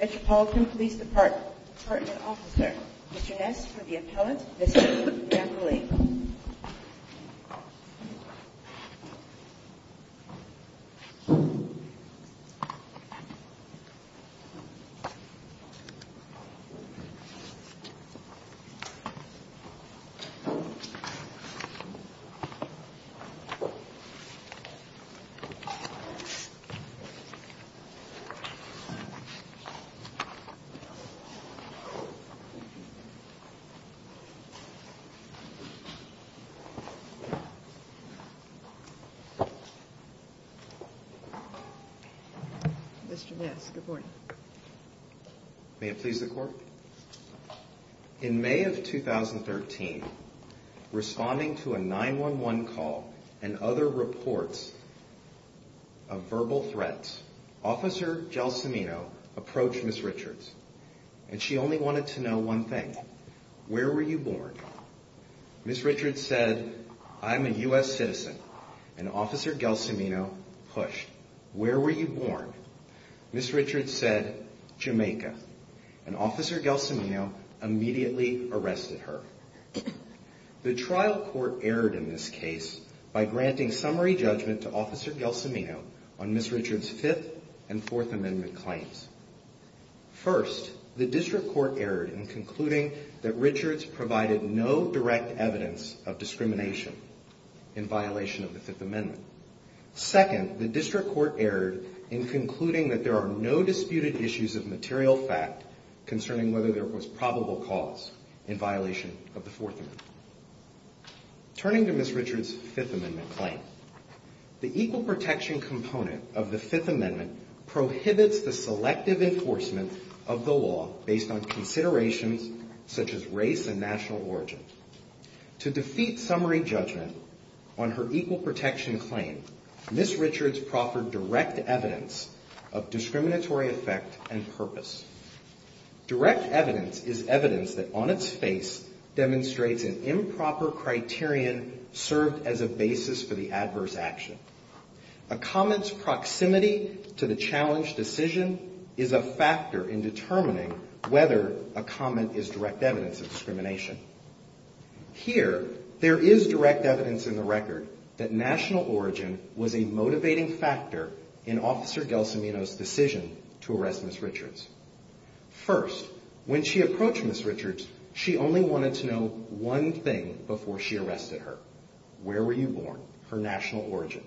Metropolitan Police Department, Department Officer, Mr. Ness for the appellant, Ms. Jennifer Gamble-Lee. Mr. Ness, good morning. May it please the Court? In May of 2013, responding to a 911 call and other reports of verbal threats, Officer Gelsomino approached Ms. Richards, and she only wanted to know one thing. Where were you born? Ms. Richards said, I'm a U.S. citizen. And Officer Gelsomino pushed, where were you born? Ms. Richards said, Jamaica. And Officer Gelsomino immediately arrested her. The trial court erred in this case by granting summary judgment to Officer Gelsomino on Ms. Richards' Fifth and Fourth Amendment claims. First, the district court erred in concluding that Richards provided no direct evidence of discrimination in violation of the Fifth Amendment. Second, the district court erred in concluding that there are no disputed issues of material fact concerning whether there was probable cause in violation of the Fourth Amendment. Turning to Ms. Richards' Fifth Amendment claim, the equal protection component of the Fifth Amendment prohibits the selective enforcement of the law based on considerations such as race and national origin. To defeat summary judgment on her equal protection claim, Ms. Richards proffered direct evidence of discriminatory effect and purpose. Direct evidence is evidence that on its face demonstrates an improper criterion served as a basis for the adverse action. A comment's proximity to the challenged decision is a factor in determining whether a comment is direct evidence of discrimination. Here, there is direct evidence in the record that national origin was a motivating factor in Officer Gelsomino's decision to arrest Ms. Richards. First, when she approached Ms. Richards, she only wanted to know one thing before she arrested her. Where were you born? Her national origin.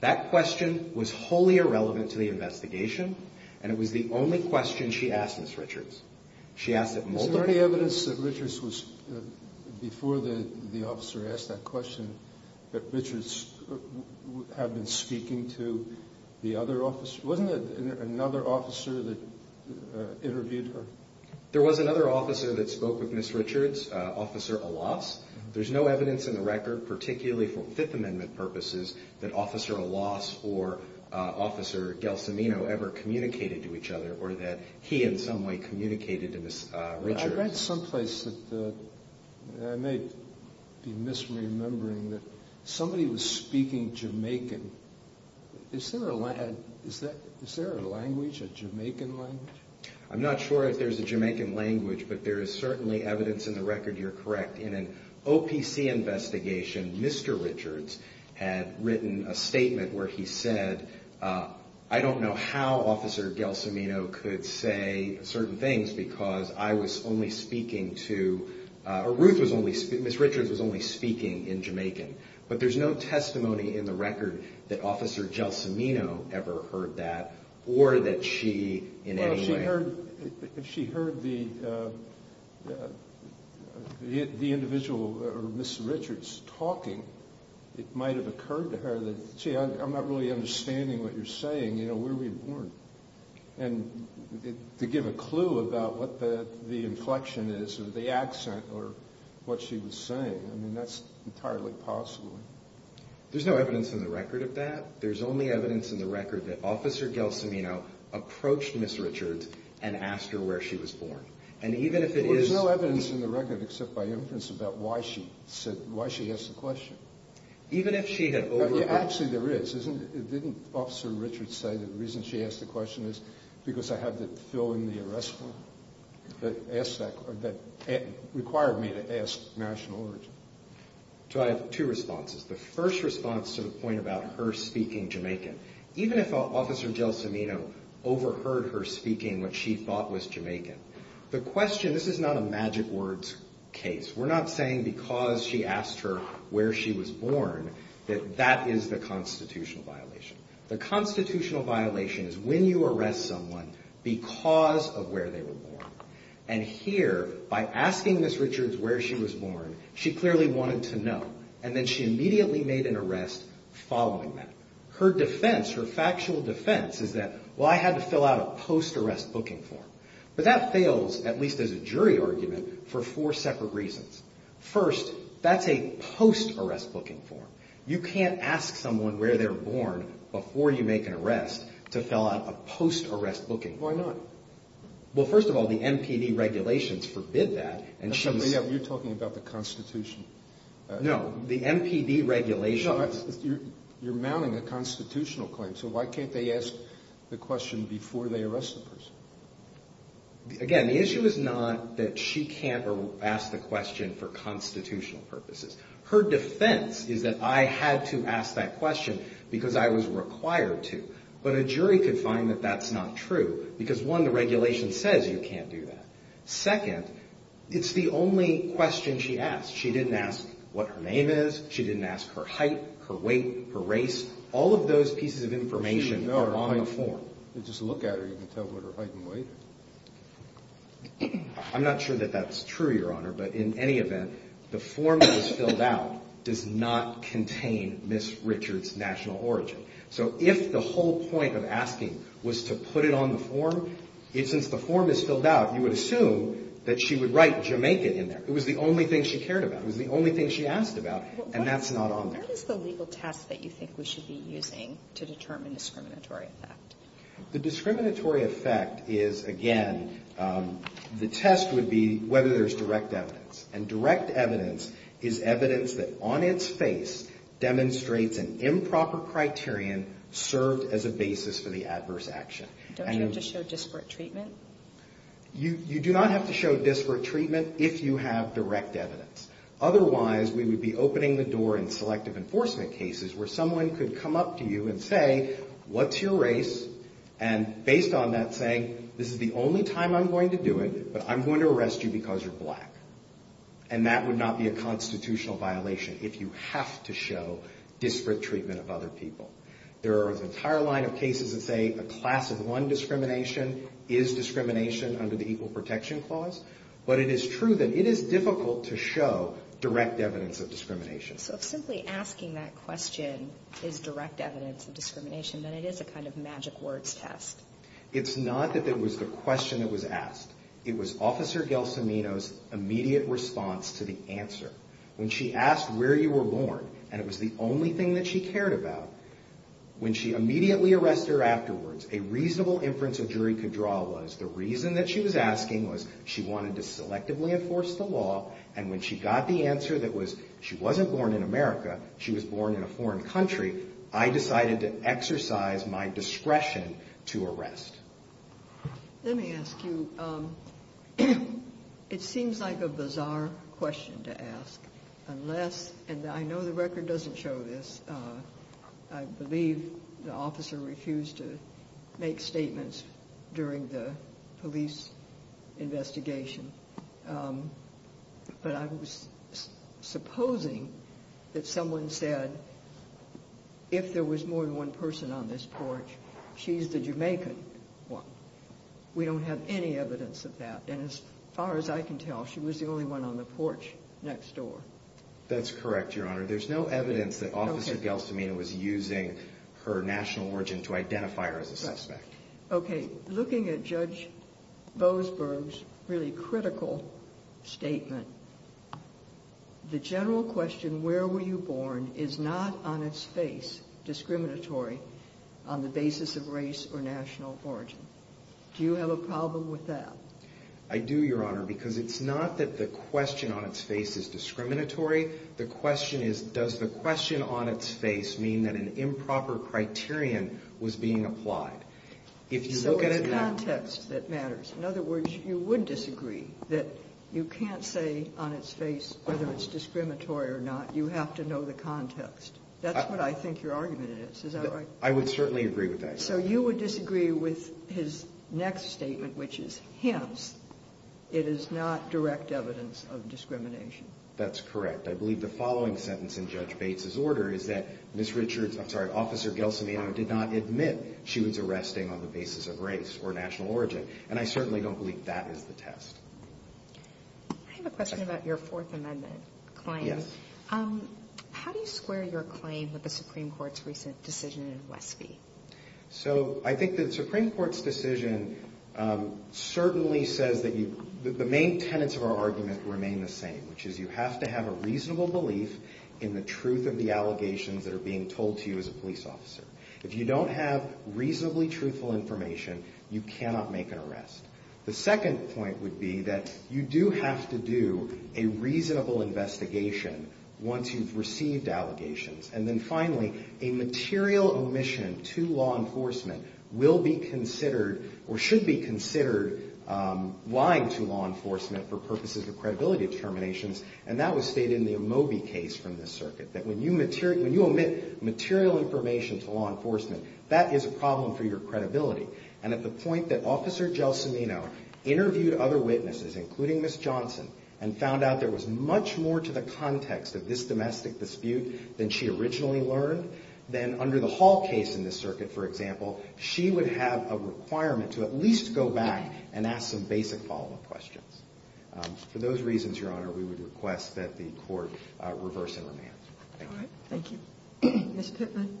That question was wholly irrelevant to the investigation, and it was the only question she asked Ms. Richards. She asked it multiple times. Is there any evidence that Richards was, before the officer asked that question, that Richards had been speaking to the other officer? Wasn't there another officer that interviewed her? There was another officer that spoke with Ms. Richards, Officer Alas. There's no evidence in the record, particularly for Fifth Amendment purposes, that Officer Alas or Officer Gelsomino ever communicated to each other, or that he in some way communicated to Ms. Richards. I read someplace that I may be misremembering that somebody was speaking Jamaican. Is there a language, a Jamaican language? I'm not sure if there's a Jamaican language, but there is certainly evidence in the record you're correct. In an OPC investigation, Mr. Richards had written a statement where he said, I don't know how Officer Gelsomino could say certain things because I was only speaking to, or Ruth was only, Ms. Richards was only speaking in Jamaican. But there's no testimony in the record that Officer Gelsomino ever heard that, or that she in any way... Well, if she heard the individual, or Ms. Richards, talking, it might have occurred to her that, gee, I'm not really understanding what you're saying, where were you born? And to give a clue about what the inflection is, or the accent, or what she was saying, I mean, that's entirely possible. There's no evidence in the record of that. There's only evidence in the record that Officer Gelsomino approached Ms. Richards and asked her where she was born. And even if it is... Well, there's no evidence in the record except by inference about why she asked the question. Even if she had overheard... Actually, there is. Didn't Officer Richards say that the reason she asked the question is because I had to fill in the arrest form that required me to ask national origin? So I have two responses. The first response to the point about her speaking Jamaican. Even if Officer Gelsomino overheard her speaking what she thought was Jamaican, the question... This is not a magic words case. We're not saying because she asked her where she was born that that is the constitutional violation. The constitutional violation is when you arrest someone because of where they were born. And here, by asking Ms. Richards where she was born, she clearly wanted to know. And then she immediately made an arrest following that. Her defense, her factual defense is that, well, I had to fill out a post-arrest booking form. But that fails, at least as a jury argument, for four separate reasons. First, that's a post-arrest booking form. You can't ask someone where they were born before you make an arrest to fill out a post-arrest booking form. Why not? Well, first of all, the MPD regulations forbid that. You're talking about the Constitution. No, the MPD regulations. You're mounting a constitutional claim. So why can't they ask the question before they arrest the person? Again, the issue is not that she can't ask the question for constitutional purposes. Her defense is that I had to ask that question because I was required to. But a jury could find that that's not true because, one, the regulation says you can't do that. Second, it's the only question she asked. She didn't ask what her name is. She didn't ask her height, her weight, her race. All of those pieces of information are on the form. Just look at her. You can tell what her height and weight are. I'm not sure that that's true, Your Honor. But in any event, the form that was filled out does not contain Ms. Richards' national origin. So if the whole point of asking was to put it on the form, since the form is filled out, you would assume that she would write Jamaica in there. It was the only thing she cared about. It was the only thing she asked about, and that's not on there. What is the legal test that you think we should be using to determine discriminatory effect? The discriminatory effect is, again, the test would be whether there's direct evidence. And direct evidence is evidence that, on its face, demonstrates an improper criterion served as a basis for the adverse action. Don't you have to show disparate treatment? You do not have to show disparate treatment if you have direct evidence. Otherwise, we would be opening the door in selective enforcement cases where someone could come up to you and say, what's your race, and based on that saying, this is the only time I'm going to do it, but I'm going to arrest you because you're black. And that would not be a constitutional violation if you have to show disparate treatment of other people. There are an entire line of cases that say a class of one discrimination is discrimination under the Equal Protection Clause, but it is true that it is difficult to show direct evidence of discrimination. So if simply asking that question is direct evidence of discrimination, then it is a kind of magic words test. It's not that that was the question that was asked. It was Officer Gelsomino's immediate response to the answer. When she asked where you were born, and it was the only thing that she cared about, when she immediately arrested her afterwards, a reasonable inference a jury could draw was the reason that she was asking was she wanted to selectively enforce the law, and when she got the answer that was she wasn't born in America, she was born in a foreign country, I decided to exercise my discretion to arrest. Let me ask you, it seems like a bizarre question to ask, unless, and I know the record doesn't show this, I believe the officer refused to make statements during the police investigation, but I'm supposing that someone said if there was more than one person on this porch, she's the Jamaican one. We don't have any evidence of that, and as far as I can tell she was the only one on the porch next door. That's correct, Your Honor. There's no evidence that Officer Gelsomino was using her national origin to identify her as a suspect. Okay, looking at Judge Boasberg's really critical statement, the general question, where were you born, is not on its face discriminatory on the basis of race or national origin. Do you have a problem with that? I do, Your Honor, because it's not that the question on its face is discriminatory, the question is does the question on its face mean that an improper criterion was being applied. So it's context that matters. In other words, you would disagree that you can't say on its face whether it's discriminatory or not. You have to know the context. That's what I think your argument is. Is that right? I would certainly agree with that. So you would disagree with his next statement, which is hence it is not direct evidence of discrimination. That's correct. I believe the following sentence in Judge Bates's order is that Ms. Richards, I'm sorry, Officer Gelsomino did not admit she was arresting on the basis of race or national origin, and I certainly don't believe that is the test. I have a question about your Fourth Amendment claim. Yes. How do you square your claim with the Supreme Court's recent decision in Westby? So I think the Supreme Court's decision certainly says that the main tenets of our argument remain the same, which is you have to have a reasonable belief in the truth of the allegations that are being told to you as a police officer. If you don't have reasonably truthful information, you cannot make an arrest. The second point would be that you do have to do a reasonable investigation once you've received allegations. And then finally, a material omission to law enforcement will be considered or should be considered lying to law enforcement for purposes of credibility determinations, and that was stated in the Omoby case from the circuit, that when you omit material information to law enforcement, that is a problem for your credibility. And at the point that Officer Gelsomino interviewed other witnesses, including Ms. Johnson, and found out there was much more to the context of this domestic dispute than she originally learned, then under the Hall case in this circuit, for example, she would have a requirement to at least go back and ask some basic follow-up questions. For those reasons, Your Honor, we would request that the Court reverse and remand. All right. Thank you. Ms. Pittman. Thank you.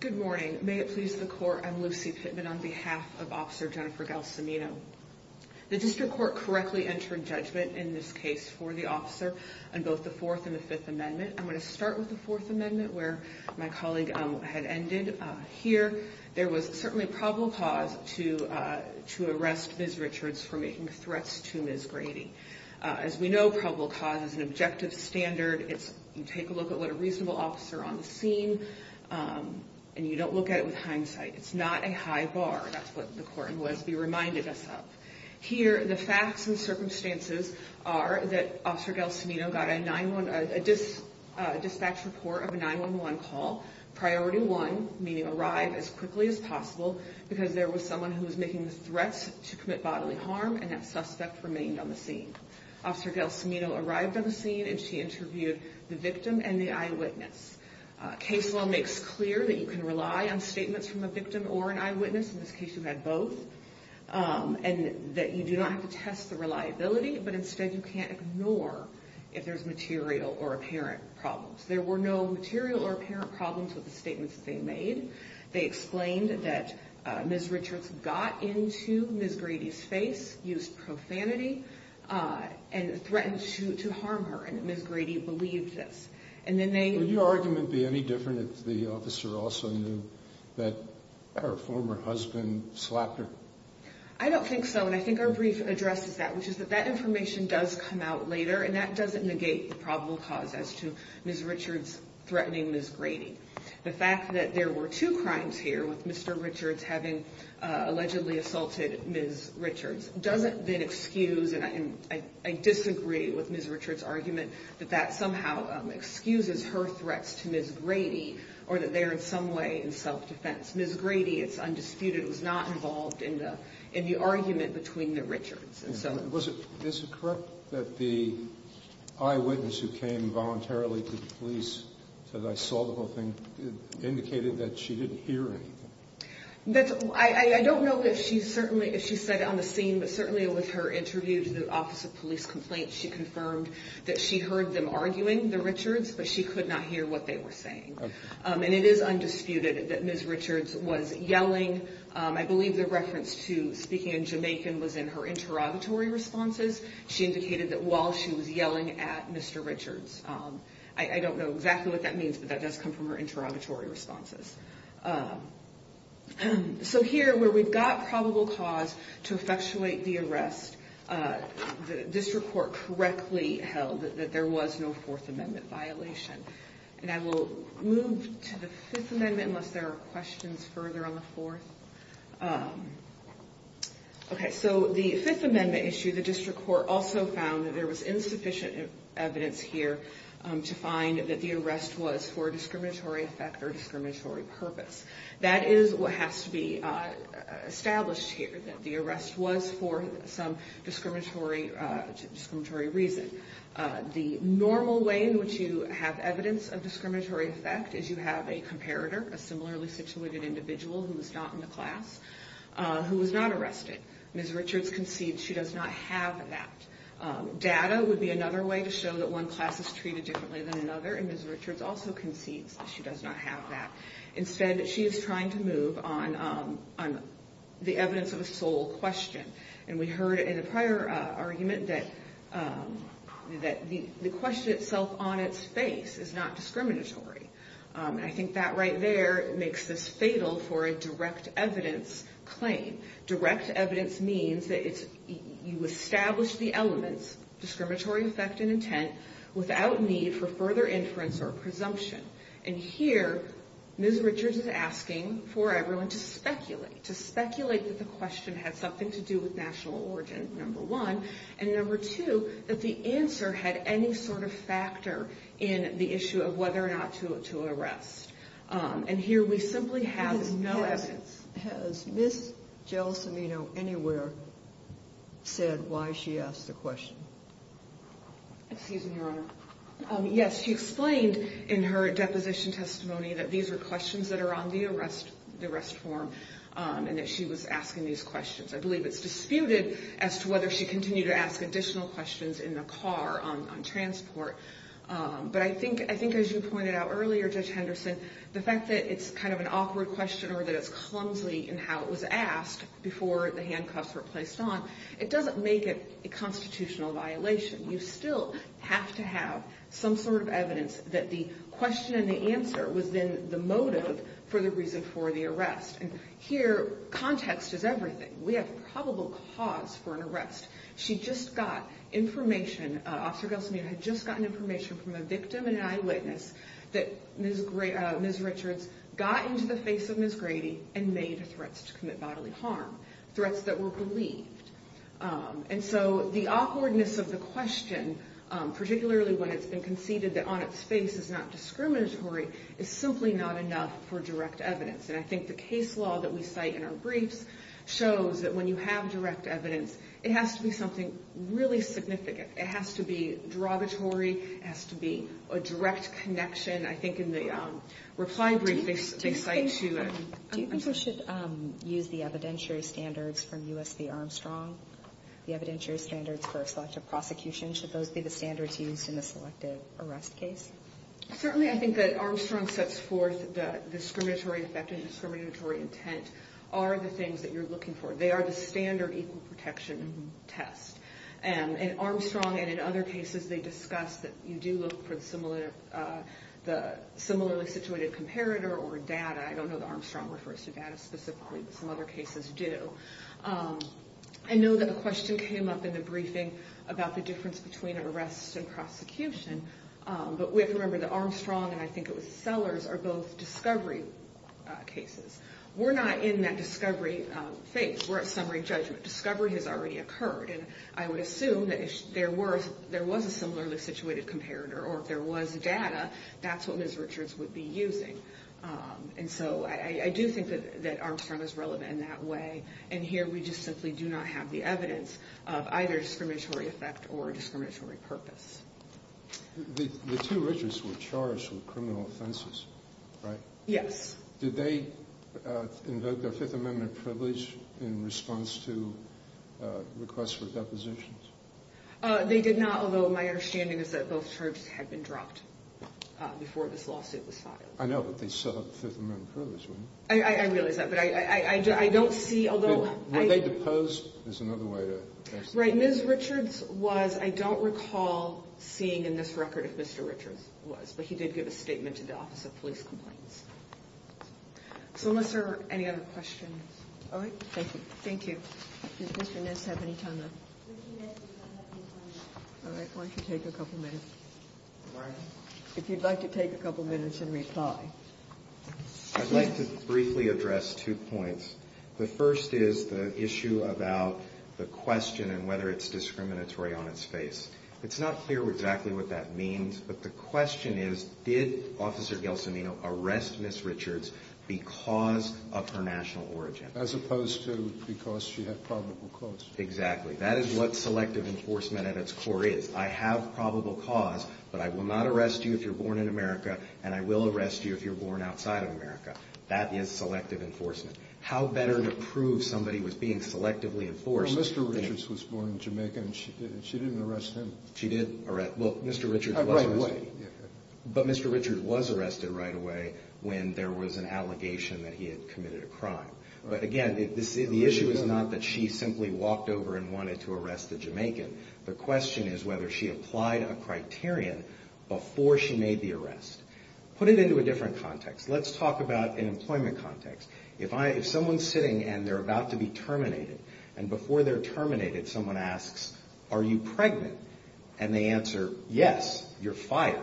Good morning. May it please the Court, I'm Lucy Pittman on behalf of Officer Jennifer Gelsomino. The district court correctly entered judgment in this case for the officer on both the Fourth and the Fifth Amendment. I'm going to start with the Fourth Amendment where my colleague had ended. Here, there was certainly probable cause to arrest Ms. Richards for making threats to Ms. Grady. As we know, probable cause is an objective standard. You take a look at what a reasonable officer on the scene, and you don't look at it with hindsight. It's not a high bar. That's what the court in Westby reminded us of. Here, the facts and circumstances are that Officer Gelsomino got a dispatch report of a 911 call, priority one, meaning arrive as quickly as possible, because there was someone who was making threats to commit bodily harm, and that suspect remained on the scene. Officer Gelsomino arrived on the scene, and she interviewed the victim and the eyewitness. Case law makes clear that you can rely on statements from a victim or an eyewitness. In this case, you had both, and that you do not have to test the reliability, but instead you can't ignore if there's material or apparent problems. There were no material or apparent problems with the statements that they made. They explained that Ms. Richards got into Ms. Grady's face, used profanity, and threatened to harm her, and Ms. Grady believed this. Would your argument be any different if the officer also knew that her former husband slapped her? I don't think so, and I think our brief addresses that, which is that that information does come out later, and that doesn't negate the probable cause as to Ms. Richards threatening Ms. Grady. The fact that there were two crimes here with Mr. Richards having allegedly assaulted Ms. Richards doesn't then excuse, and I disagree with Ms. Richards' argument that that somehow excuses her threats to Ms. Grady, or that they're in some way in self-defense. Ms. Grady, it's undisputed, was not involved in the argument between the Richards. Is it correct that the eyewitness who came voluntarily to the police, said, I saw the whole thing, indicated that she didn't hear anything? I don't know if she said it on the scene, but certainly with her interview to the Office of Police Complaints, she confirmed that she heard them arguing, the Richards, but she could not hear what they were saying. And it is undisputed that Ms. Richards was yelling. I believe the reference to speaking in Jamaican was in her interrogatory responses. She indicated that while she was yelling at Mr. Richards. I don't know exactly what that means, but that does come from her interrogatory responses. So here, where we've got probable cause to effectuate the arrest, the district court correctly held that there was no Fourth Amendment violation. And I will move to the Fifth Amendment, unless there are questions further on the Fourth. Okay, so the Fifth Amendment issue, the district court also found that there was insufficient evidence here to find that the arrest was for a discriminatory effect or discriminatory purpose. That is what has to be established here, that the arrest was for some discriminatory reason. The normal way in which you have evidence of discriminatory effect is you have a comparator, a similarly situated individual who was not in the class, who was not arrested. Ms. Richards concedes she does not have that. Data would be another way to show that one class is treated differently than another, and Ms. Richards also concedes that she does not have that. Instead, she is trying to move on the evidence of a sole question. And we heard in a prior argument that the question itself on its face is not discriminatory. I think that right there makes this fatal for a direct evidence claim. Direct evidence means that you establish the elements, discriminatory effect and intent, without need for further inference or presumption. And here, Ms. Richards is asking for everyone to speculate, to speculate that the question had something to do with national origin, number one, and number two, that the answer had any sort of factor in the issue of whether or not to arrest. And here we simply have no evidence. Has Ms. Jill Cimino anywhere said why she asked the question? Excuse me, Your Honor. Yes, she explained in her deposition testimony that these are questions that are on the arrest form. And that she was asking these questions. I believe it's disputed as to whether she continued to ask additional questions in the car on transport. But I think, as you pointed out earlier, Judge Henderson, the fact that it's kind of an awkward question or that it's clumsily in how it was asked before the handcuffs were placed on, it doesn't make it a constitutional violation. You still have to have some sort of evidence that the question and the answer was then the motive for the reason for the arrest. And here, context is everything. We have probable cause for an arrest. She just got information. Officer Gelson had just gotten information from a victim and an eyewitness that Ms. Richards got into the face of Ms. Grady and made threats to commit bodily harm. Threats that were believed. And so the awkwardness of the question, particularly when it's been conceded that on its face it's not discriminatory, is simply not enough for direct evidence. And I think the case law that we cite in our briefs shows that when you have direct evidence, it has to be something really significant. It has to be derogatory. It has to be a direct connection. I think in the reply brief they cite to an arrest. Do you think we should use the evidentiary standards from U.S. v. Armstrong, the evidentiary standards for a selective prosecution? Should those be the standards used in the selective arrest case? Certainly I think that Armstrong sets forth the discriminatory effect and discriminatory intent are the things that you're looking for. They are the standard equal protection test. And Armstrong and in other cases they discuss that you do look for the similarly situated comparator or data. I don't know that Armstrong refers to data specifically, but some other cases do. I know that a question came up in the briefing about the difference between arrests and prosecution, but we have to remember that Armstrong and I think it was Sellers are both discovery cases. We're not in that discovery phase. We're at summary judgment. Discovery has already occurred, and I would assume that if there was a similarly situated comparator or if there was data, that's what Ms. Richards would be using. And so I do think that Armstrong is relevant in that way, and here we just simply do not have the evidence of either discriminatory effect or discriminatory purpose. The two Richards were charged with criminal offenses, right? Yes. Did they invoke their Fifth Amendment privilege in response to requests for depositions? They did not, although my understanding is that both charges had been dropped before this lawsuit was filed. I know, but they still have the Fifth Amendment privilege, right? I realize that, but I don't see, although- Were they deposed? There's another way to answer that. Right. Ms. Richards was, I don't recall seeing in this record if Mr. Richards was, but he did give a statement to the Office of Police Complaints. So unless there are any other questions. All right. Thank you. Thank you. Does Mr. Ness have any time left? Mr. Ness does not have any time left. All right. Why don't you take a couple minutes? All right. If you'd like to take a couple minutes and reply. I'd like to briefly address two points. The first is the issue about the question and whether it's discriminatory on its face. It's not clear exactly what that means, but the question is, did Officer Gelsomino arrest Ms. Richards because of her national origin? As opposed to because she had probable cause. Exactly. That is what selective enforcement at its core is. I have probable cause, but I will not arrest you if you're born in America, and I will arrest you if you're born outside of America. That is selective enforcement. How better to prove somebody was being selectively enforced? Well, Mr. Richards was born in Jamaica, and she didn't arrest him. She did arrest – well, Mr. Richards was arrested. Right away. But Mr. Richards was arrested right away when there was an allegation that he had committed a crime. But, again, the issue is not that she simply walked over and wanted to arrest the Jamaican. The question is whether she applied a criterion before she made the arrest. Put it into a different context. Let's talk about an employment context. If someone's sitting and they're about to be terminated, and before they're terminated someone asks, are you pregnant? And they answer, yes, you're fired.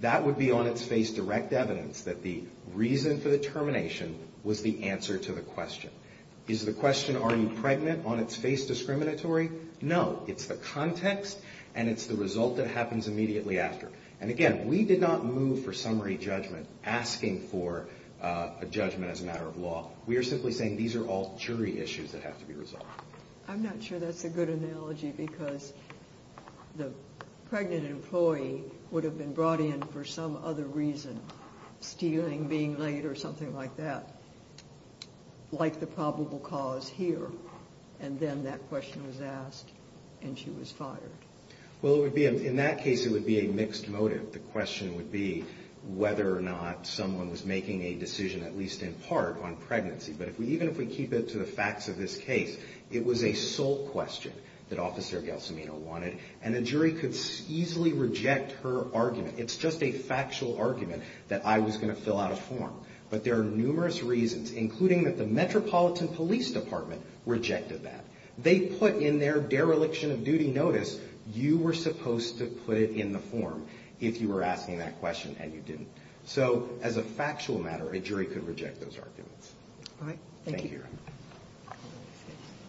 That would be on its face direct evidence that the reason for the termination was the answer to the question. Is the question, are you pregnant, on its face discriminatory? No. It's the context, and it's the result that happens immediately after. And, again, we did not move for summary judgment asking for a judgment as a matter of law. We are simply saying these are all jury issues that have to be resolved. I'm not sure that's a good analogy because the pregnant employee would have been brought in for some other reason, stealing, being late, or something like that. Like the probable cause here, and then that question was asked and she was fired. Well, it would be, in that case it would be a mixed motive. The question would be whether or not someone was making a decision, at least in part, on pregnancy. But even if we keep it to the facts of this case, it was a sole question that Officer Gelsomino wanted, and a jury could easily reject her argument. It's just a factual argument that I was going to fill out a form. But there are numerous reasons, including that the Metropolitan Police Department rejected that. They put in their dereliction of duty notice, you were supposed to put it in the form if you were asking that question and you didn't. So, as a factual matter, a jury could reject those arguments. All right. Thank you. Thank you.